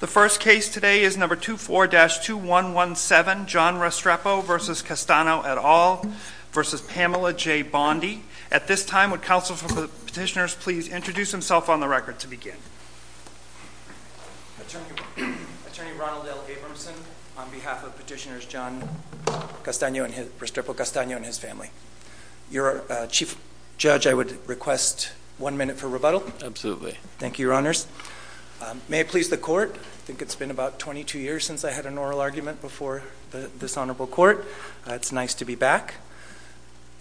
The first case today is number 24-2117 John Restrepo v. Castano et al. v. Pamela J. Bondi. At this time, would counsel for the petitioners please introduce themselves on the record to begin. Attorney Ronald L. Abramson on behalf of Petitioners John Restrepo Castano and his family. Your Chief Judge, I would request one minute for rebuttal. Absolutely. Thank you, Your Honors. May it please the Court. I think it's been about 22 years since I had an oral argument before this Honorable Court. It's nice to be back.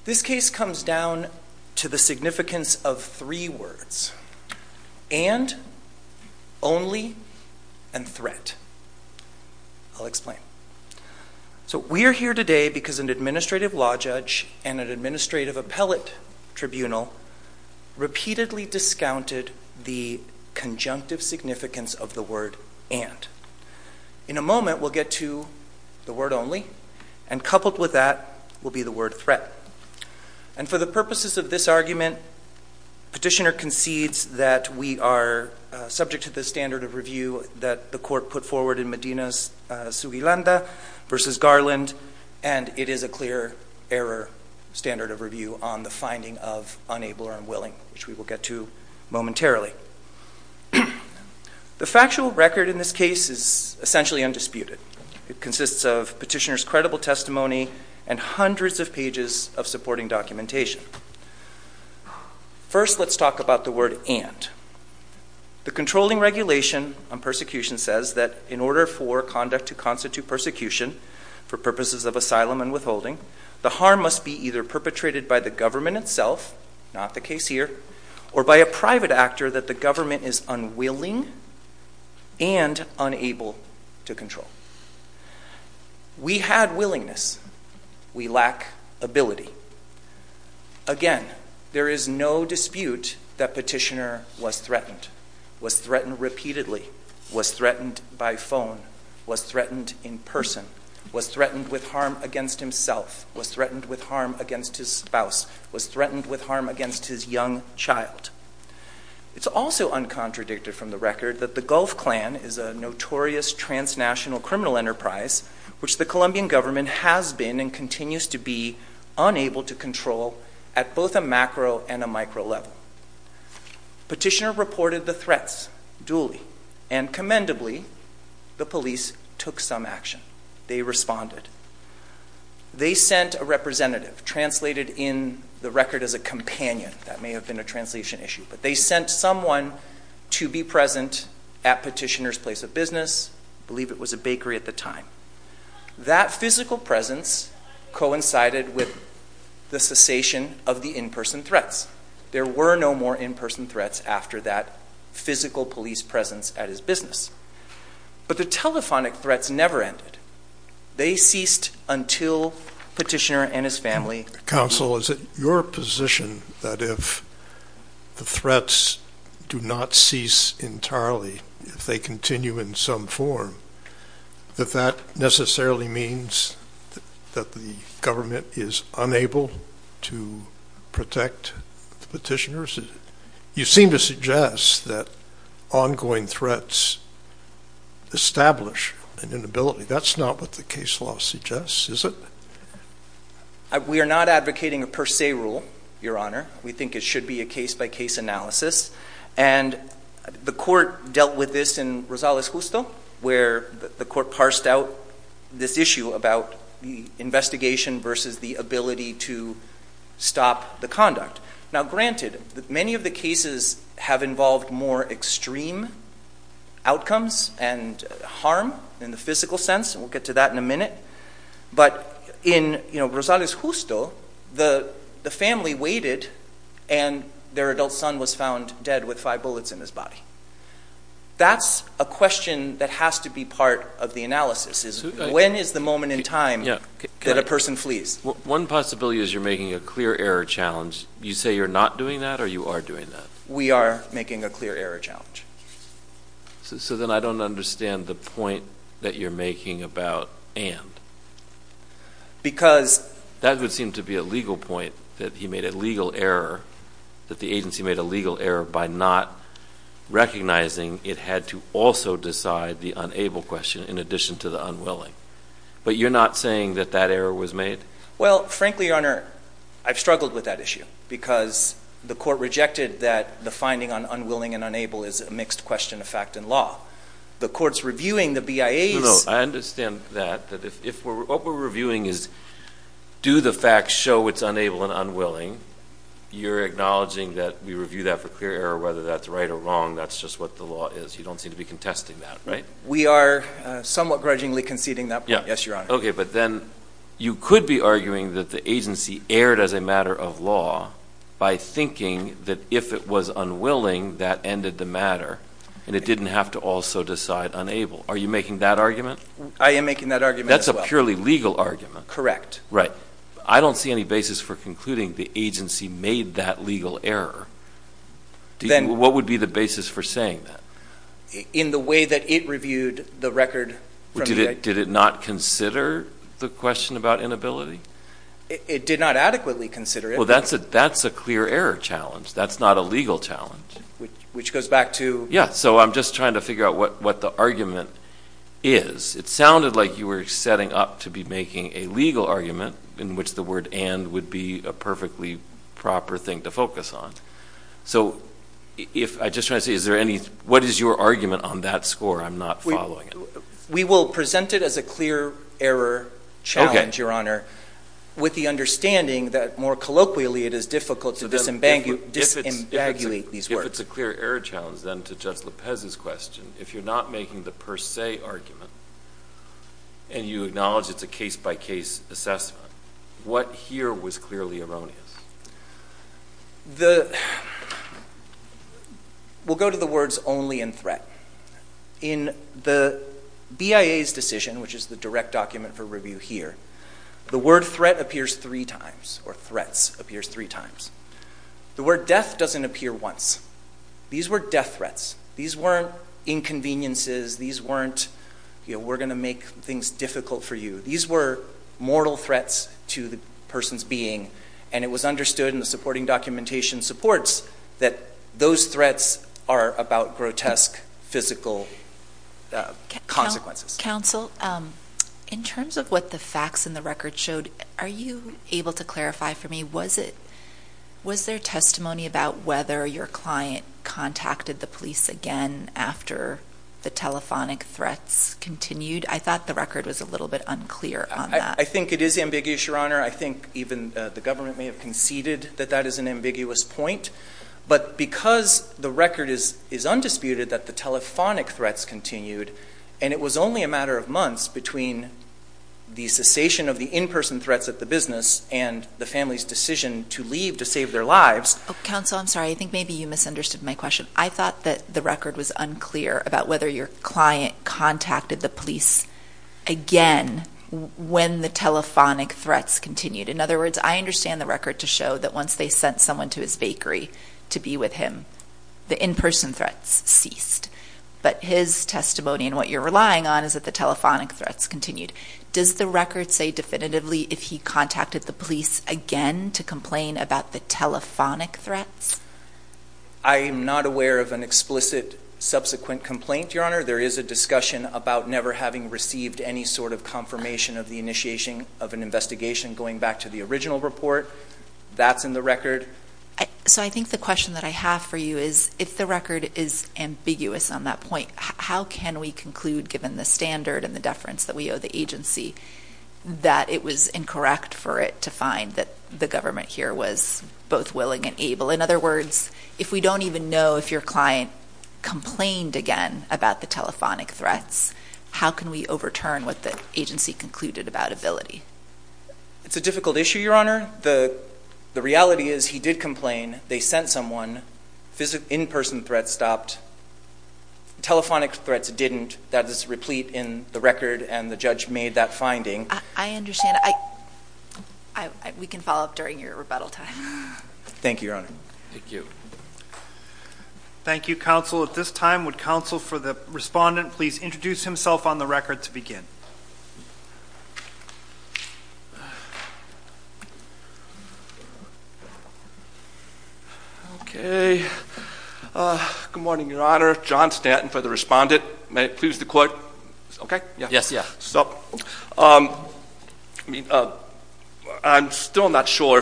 This case comes down to the significance of three words. And, only, and threat. I'll explain. We are here today because an Administrative Law Judge and an Administrative Appellate Tribunal repeatedly discounted the conjunctive significance of the word, and. In a moment, we'll get to the word, only, and coupled with that will be the word, threat. And for the purposes of this argument, Petitioner concedes that we are subject to the standard of review that the Court put forward in Medina's Sugilenda versus Garland, and it is a clear error standard of review on the finding of unable or unwilling, which we will get to momentarily. The factual record in this case is essentially undisputed. It consists of Petitioner's credible testimony and hundreds of pages of supporting documentation. First, let's talk about the word, and. The controlling regulation on persecution says that in order for conduct to constitute persecution for purposes of asylum and withholding, the harm must be either perpetrated by the government itself, not the case here, or by a private actor that the government is unwilling and unable to control. We had willingness. We lack ability. Again, there is no dispute that Petitioner was threatened, was threatened repeatedly, was threatened by phone, was threatened in person, was threatened with harm against himself, was threatened with harm against his spouse, was threatened with harm against his young child. It's also uncontradicted from the record that the Gulf Clan is a notorious transnational criminal enterprise, which the Colombian government has been and continues to be unable to control at both a macro and a micro level. Petitioner reported the threats duly, and commendably, the police took some action. They responded. They sent a representative, translated in the record as a companion. That may have been a translation issue. But they sent someone to be present at Petitioner's place of business. I believe it was a bakery at the time. That physical presence coincided with the cessation of the in-person threats. There were no more in-person threats after that physical police presence at his business. But the telephonic threats never ended. They ceased until Petitioner and his family. Counsel, is it your position that if the threats do not cease entirely, if they continue in some form, that that necessarily means that the government is unable to protect the petitioners? You seem to suggest that ongoing threats establish an inability. That's not what the case law suggests, is it? We are not advocating a per se rule, Your Honor. We think it should be a case-by-case analysis. And the court dealt with this in Rosales Justo, where the court parsed out this issue about the investigation versus the ability to stop the conduct. Now, granted, many of the cases have involved more extreme outcomes and harm in the physical sense, and we'll get to that in a minute. But in Rosales Justo, the family waited, and their adult son was found dead with five bullets in his body. That's a question that has to be part of the analysis, is when is the moment in time that a person flees? One possibility is you're making a clear error challenge. You say you're not doing that, or you are doing that? We are making a clear error challenge. So then I don't understand the point that you're making about and. Because that would seem to be a legal point, that he made a legal error, that the agency made a legal error by not recognizing it had to also decide the unable question in addition to the unwilling. But you're not saying that that error was made? Well, frankly, Your Honor, I've struggled with that issue because the court rejected that the finding on unwilling and unable is a mixed question of fact and law. The court's reviewing the BIA's. No, no, I understand that. What we're reviewing is do the facts show it's unable and unwilling. You're acknowledging that we review that for clear error, whether that's right or wrong. That's just what the law is. You don't seem to be contesting that, right? We are somewhat grudgingly conceding that point, yes, Your Honor. Okay, but then you could be arguing that the agency erred as a matter of law by thinking that if it was unwilling, that ended the matter, and it didn't have to also decide unable. Are you making that argument? I am making that argument as well. That's a purely legal argument. Correct. Right. I don't see any basis for concluding the agency made that legal error. What would be the basis for saying that? In the way that it reviewed the record from the BIA. Did it not consider the question about inability? It did not adequately consider it. Well, that's a clear error challenge. That's not a legal challenge. Which goes back to? Yeah, so I'm just trying to figure out what the argument is. It sounded like you were setting up to be making a legal argument in which the word and would be a perfectly proper thing to focus on. So, I'm just trying to say, what is your argument on that score? I'm not following it. We will present it as a clear error challenge, Your Honor, with the understanding that more colloquially it is difficult to disembagulate these words. If it's a clear error challenge, then, to Judge Lopez's question, if you're not making the per se argument and you acknowledge it's a case-by-case assessment, what here was clearly erroneous? We'll go to the words only and threat. In the BIA's decision, which is the direct document for review here, the word threat appears three times, or threats appears three times. The word death doesn't appear once. These were death threats. These weren't inconveniences. These weren't, you know, we're going to make things difficult for you. These were mortal threats to the person's being, and it was understood in the supporting documentation supports that those threats are about grotesque physical consequences. Counsel, in terms of what the facts in the record showed, are you able to clarify for me, was there testimony about whether your client contacted the police again after the telephonic threats continued? I thought the record was a little bit unclear on that. I think it is ambiguous, Your Honor. I think even the government may have conceded that that is an ambiguous point. But because the record is undisputed that the telephonic threats continued, and it was only a matter of months between the cessation of the in-person threats at the business and the family's decision to leave to save their lives. Counsel, I'm sorry. I think maybe you misunderstood my question. I thought that the record was unclear about whether your client contacted the police again when the telephonic threats continued. In other words, I understand the record to show that once they sent someone to his bakery to be with him, the in-person threats ceased. But his testimony and what you're relying on is that the telephonic threats continued. Does the record say definitively if he contacted the police again to complain about the telephonic threats? I am not aware of an explicit subsequent complaint, Your Honor. There is a discussion about never having received any sort of confirmation of the initiation of an investigation, going back to the original report. That's in the record. So I think the question that I have for you is, if the record is ambiguous on that point, how can we conclude, given the standard and the deference that we owe the agency, that it was incorrect for it to find that the government here was both willing and able? In other words, if we don't even know if your client complained again about the telephonic threats, how can we overturn what the agency concluded about ability? It's a difficult issue, Your Honor. The reality is he did complain. They sent someone. In-person threats stopped. Telephonic threats didn't. That is replete in the record, and the judge made that finding. I understand. We can follow up during your rebuttal time. Thank you, Your Honor. Thank you. Thank you, Counsel. At this time, would Counsel for the Respondent please introduce himself on the record to begin? Okay. Good morning, Your Honor. John Stanton for the Respondent. May it please the Court? Okay? Yes. I'm still not sure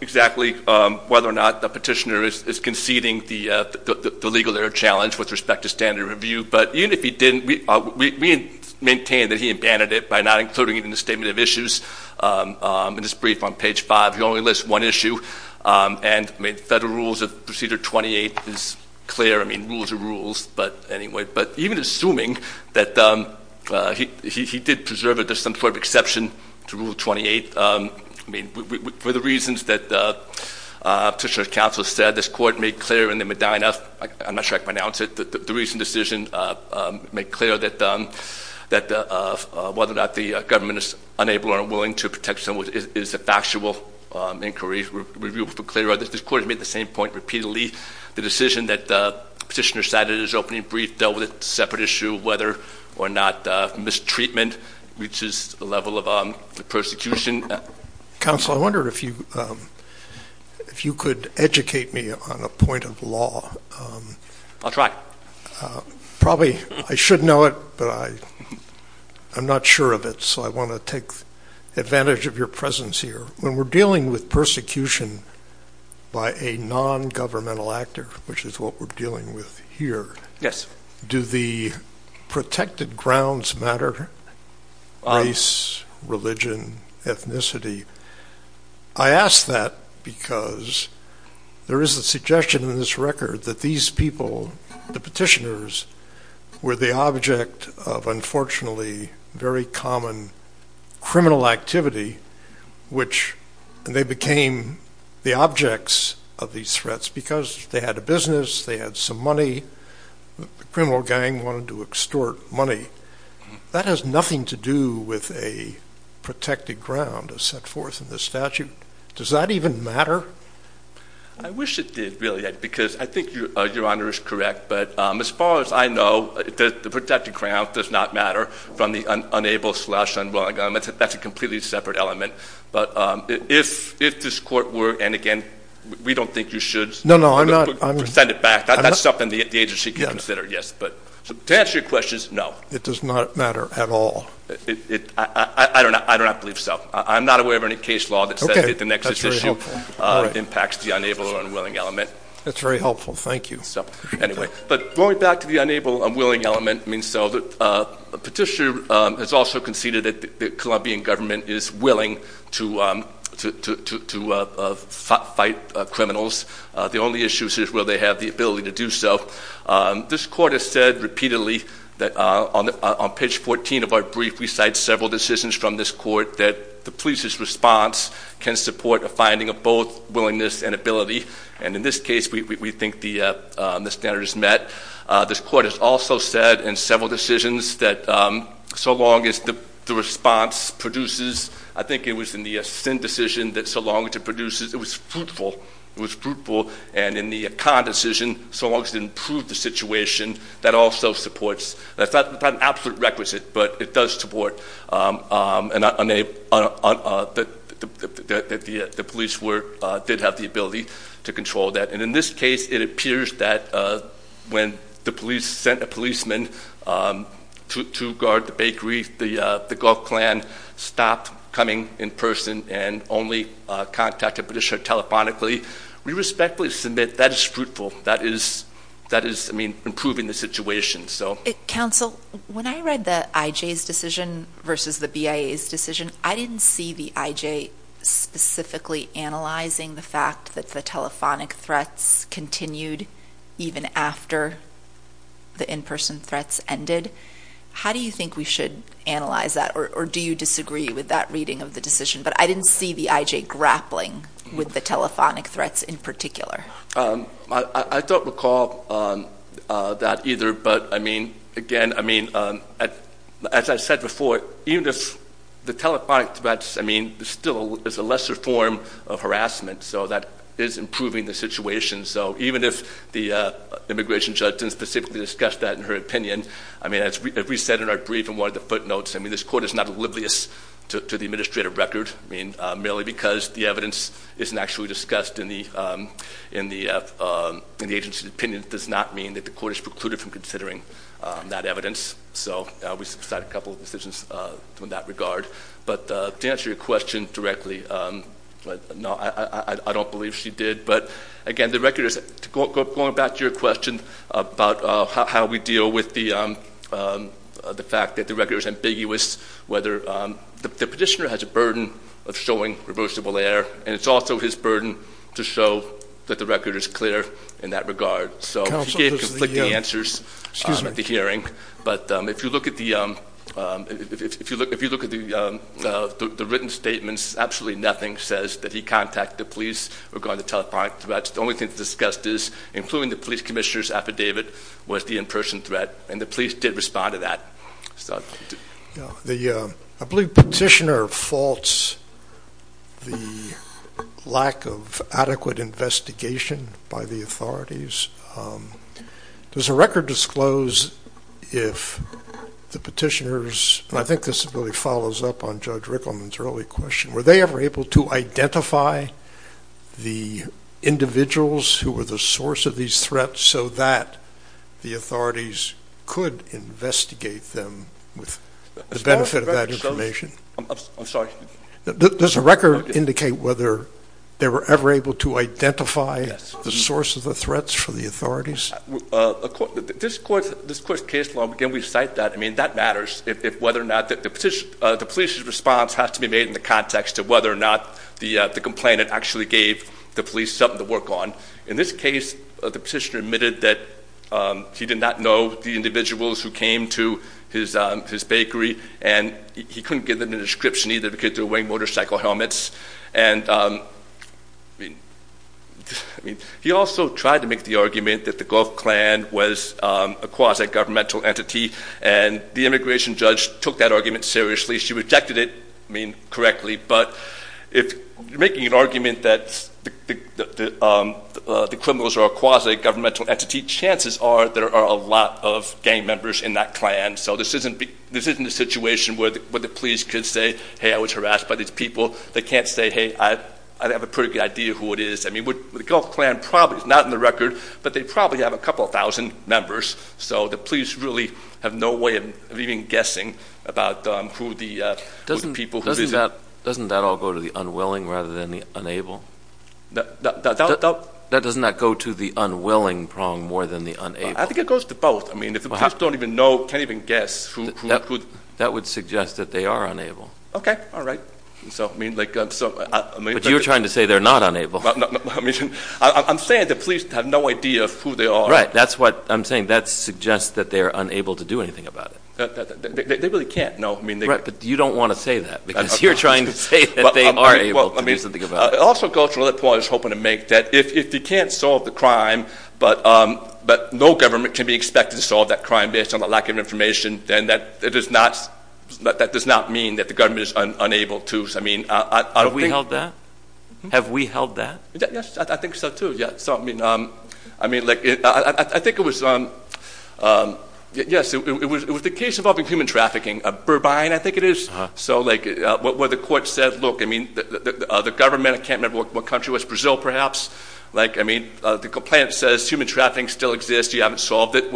exactly whether or not the petitioner is conceding the legal error challenge with respect to standard review, but even if he didn't, we maintain that he abandoned it by not including it in the statement of issues. In his brief on page 5, he only lists one issue, and Federal Rules of Procedure 28 is clear. I mean, rules are rules. But even assuming that he did preserve it as some sort of exception to Rule 28, I mean, for the reasons that Petitioner's Counsel said, this Court made clear in the Medina —I'm not sure I can pronounce it— the recent decision made clear that whether or not the government is unable or unwilling to protect someone is a factual inquiry. This Court has made the same point repeatedly. The decision that Petitioner cited in his opening brief dealt with a separate issue of whether or not mistreatment reaches the level of persecution. Counsel, I wondered if you could educate me on a point of law. I'll try. Probably I should know it, but I'm not sure of it, so I want to take advantage of your presence here. When we're dealing with persecution by a nongovernmental actor, which is what we're dealing with here, do the protected grounds matter? Race, religion, ethnicity. I ask that because there is a suggestion in this record that these people, the petitioners, were the object of, unfortunately, very common criminal activity, which they became the objects of these threats because they had a business, they had some money. The criminal gang wanted to extort money. That has nothing to do with a protected ground as set forth in the statute. Does that even matter? I wish it did, really, because I think Your Honor is correct. But as far as I know, the protected ground does not matter from the unable slash unwilling element. That's a completely separate element. But if this court were, and again, we don't think you should send it back. That's something the agency can consider, yes. But to answer your question, no. It does not matter at all. I do not believe so. I'm not aware of any case law that says that the nexus issue impacts the unable or unwilling element. That's very helpful. Thank you. Anyway, but going back to the unable unwilling element, the petitioner has also conceded that the Colombian government is willing to fight criminals. The only issue is will they have the ability to do so. This court has said repeatedly that on page 14 of our brief, we cite several decisions from this court that the police's response can support a finding of both willingness and ability. And in this case, we think the standard is met. This court has also said in several decisions that so long as the response produces, I think it was in the sin decision that so long as it produces, it was fruitful. It was fruitful. And in the con decision, so long as it improved the situation, that also supports. That's not an absolute requisite, but it does support that the police did have the ability to control that. And in this case, it appears that when the police sent a policeman to guard the bakery, the Gulf clan stopped coming in person and only contacted petitioner telephonically. We respectfully submit that is fruitful. That is, I mean, improving the situation. Counsel, when I read the IJ's decision versus the BIA's decision, I didn't see the IJ specifically analyzing the fact that the telephonic threats continued even after the in-person threats ended. How do you think we should analyze that, or do you disagree with that reading of the decision? But I didn't see the IJ grappling with the telephonic threats in particular. I don't recall that either. But, I mean, again, I mean, as I said before, even if the telephonic threats, I mean, there still is a lesser form of harassment, so that is improving the situation. So even if the immigration judge didn't specifically discuss that in her opinion, I mean, as we said in our brief and one of the footnotes, I mean, this court is not oblivious to the administrative record, I mean, merely because the evidence isn't actually discussed in the agency's opinion does not mean that the court is precluded from considering that evidence. So we subside a couple of decisions in that regard. But to answer your question directly, no, I don't believe she did. But, again, going back to your question about how we deal with the fact that the record is ambiguous, whether the petitioner has a burden of showing reversible error, and it's also his burden to show that the record is clear in that regard. So he gave conflicting answers at the hearing. But if you look at the written statements, absolutely nothing says that he contacted the police regarding the telephonic threats. The only thing that's discussed is including the police commissioner's affidavit was the in-person threat, and the police did respond to that. I believe petitioner faults the lack of adequate investigation by the authorities. Does the record disclose if the petitioners, and I think this really follows up on Judge Rickleman's early question, were they ever able to identify the individuals who were the source of these threats so that the authorities could investigate them with the benefit of that information? I'm sorry. Does the record indicate whether they were ever able to identify the source of the threats for the authorities? This court's case law, again, we cite that. I mean, that matters, whether or not the police's response has to be made in the context of whether or not the complainant actually gave the police something to work on. In this case, the petitioner admitted that he did not know the individuals who came to his bakery, and he couldn't give them a description either because they were wearing motorcycle helmets. And he also tried to make the argument that the Gulf Clan was a quasi-governmental entity, and the immigration judge took that argument seriously. She rejected it, I mean, correctly, but if you're making an argument that the criminals are a quasi-governmental entity, chances are there are a lot of gang members in that clan, so this isn't a situation where the police could say, hey, I was harassed by these people. They can't say, hey, I have a pretty good idea who it is. I mean, the Gulf Clan probably is not in the record, but they probably have a couple thousand members, so the police really have no way of even guessing about who the people who visit. Doesn't that all go to the unwilling rather than the unable? Doesn't that go to the unwilling prong more than the unable? I think it goes to both. I mean, if the police don't even know, can't even guess who could. That would suggest that they are unable. Okay, all right. But you're trying to say they're not unable. I'm saying the police have no idea who they are. Right. That's what I'm saying. That suggests that they are unable to do anything about it. They really can't, no. Right, but you don't want to say that because you're trying to say that they are able to do something about it. It also goes to another point I was hoping to make, that if you can't solve the crime, but no government can be expected to solve that crime based on a lack of information, then that does not mean that the government is unable to. Have we held that? Have we held that? Yes, I think so, too. I think it was the case involving human trafficking, Burbine, I think it is, where the court said, look, the government, I can't remember what country it was, Brazil perhaps, the complaint says human trafficking still exists, you haven't solved it,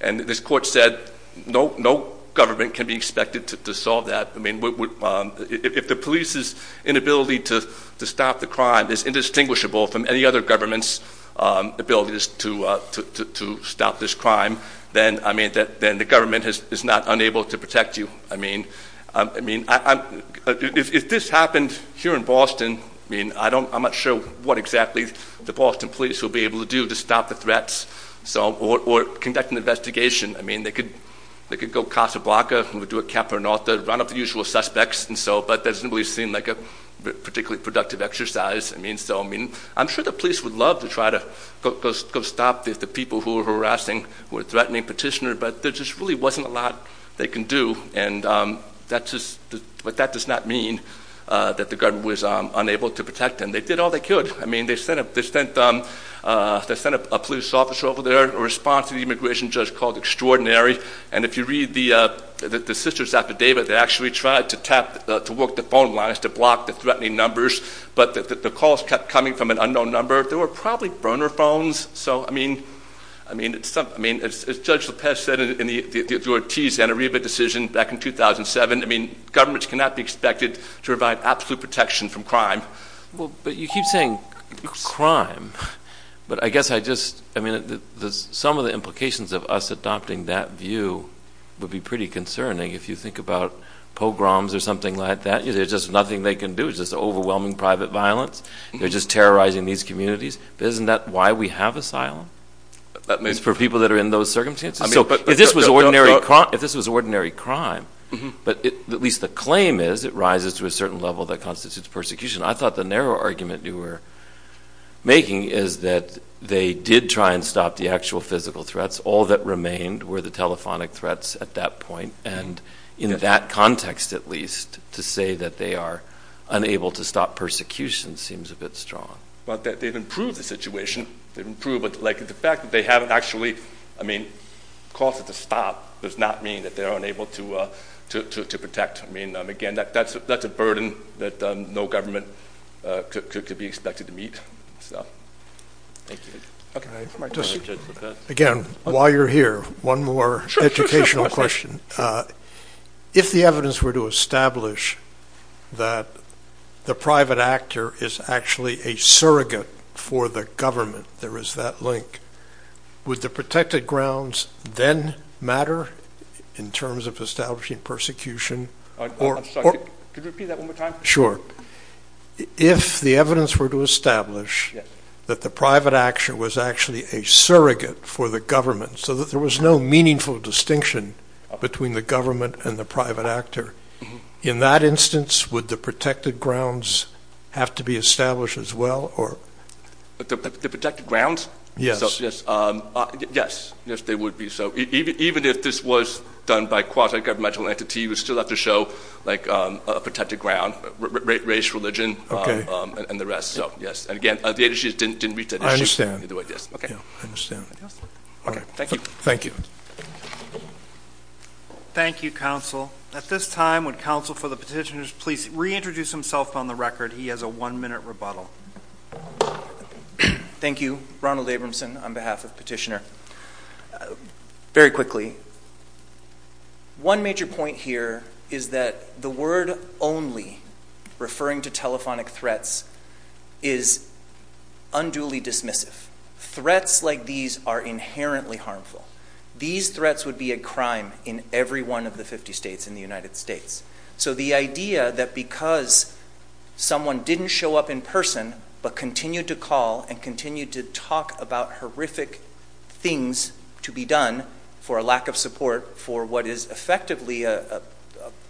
and this court said no government can be expected to solve that. If the police's inability to stop the crime is indistinguishable from any other government's ability to stop this crime, then the government is not unable to protect you. If this happened here in Boston, I'm not sure what exactly the Boston police will be able to do to stop the threats or conduct an investigation. I mean, they could go Casablanca, do a Capernauta, run up the usual suspects, but that doesn't really seem like a particularly productive exercise. I'm sure the police would love to try to go stop the people who are harassing, who are threatening petitioners, but there just really wasn't a lot they can do, but that does not mean that the government was unable to protect them. They did all they could. I mean, they sent a police officer over there in response to the immigration judge called extraordinary, and if you read the sister's affidavit, they actually tried to tap, to work the phone lines to block the threatening numbers, but the calls kept coming from an unknown number. They were probably burner phones, so I mean, as Judge Lopez said in the Ortiz-Zanariba decision back in 2007, I mean, governments cannot be expected to provide absolute protection from crime. Well, but you keep saying crime, but I guess I just, I mean, some of the implications of us adopting that view would be pretty concerning. If you think about pogroms or something like that, there's just nothing they can do. It's just overwhelming private violence. They're just terrorizing these communities. Isn't that why we have asylum is for people that are in those circumstances? So if this was ordinary crime, but at least the claim is it rises to a certain level that constitutes persecution. I thought the narrow argument you were making is that they did try and stop the actual physical threats. All that remained were the telephonic threats at that point, and in that context at least to say that they are unable to stop persecution seems a bit strong. But they've improved the situation. They've improved, but the fact that they haven't actually, I mean, caused it to stop does not mean that they're unable to protect. I mean, again, that's a burden that no government could be expected to meet. Again, while you're here, one more educational question. If the evidence were to establish that the private actor is actually a surrogate for the government, there is that link, would the protected grounds then matter in terms of establishing persecution? Could you repeat that one more time? Sure. If the evidence were to establish that the private action was actually a surrogate for the government, so that there was no meaningful distinction between the government and the private actor, in that instance would the protected grounds have to be established as well? The protected grounds? Yes. Yes, they would be. So even if this was done by a quasi-governmental entity, you would still have to show a protected ground, race, religion, and the rest. So, yes. And again, the agency didn't reach that issue. Okay. I understand. Okay. Thank you. Thank you. Thank you, counsel. At this time, would counsel for the petitioners please reintroduce himself on the record? He has a one-minute rebuttal. Thank you. Ronald Abramson on behalf of the petitioner. Very quickly, one major point here is that the word only referring to telephonic threats is unduly dismissive. Threats like these are inherently harmful. These threats would be a crime in every one of the 50 states in the United States. So the idea that because someone didn't show up in person but continued to call and continued to talk about horrific things to be done for a lack of support for what is effectively a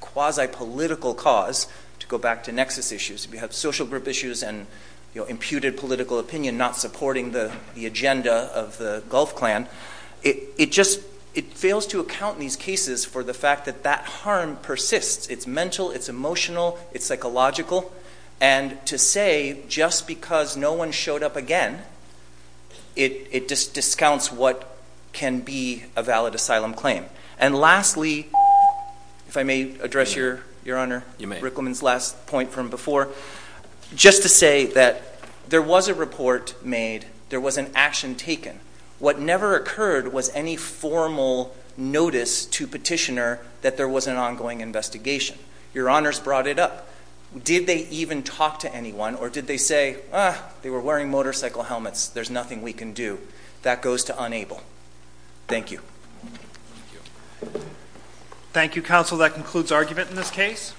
quasi-political cause, to go back to nexus issues, if you have social group issues and imputed political opinion not supporting the agenda of the Gulf clan, it just fails to account in these cases for the fact that that harm persists. It's mental. It's emotional. It's psychological. And to say just because no one showed up again, it discounts what can be a valid asylum claim. And lastly, if I may address, Your Honor, Rickleman's last point from before, just to say that there was a report made. There was an action taken. What never occurred was any formal notice to petitioner that there was an ongoing investigation. Your Honors brought it up. Did they even talk to anyone or did they say, ah, they were wearing motorcycle helmets, there's nothing we can do? That goes to unable. Thank you. Thank you, Counsel. That concludes argument in this case.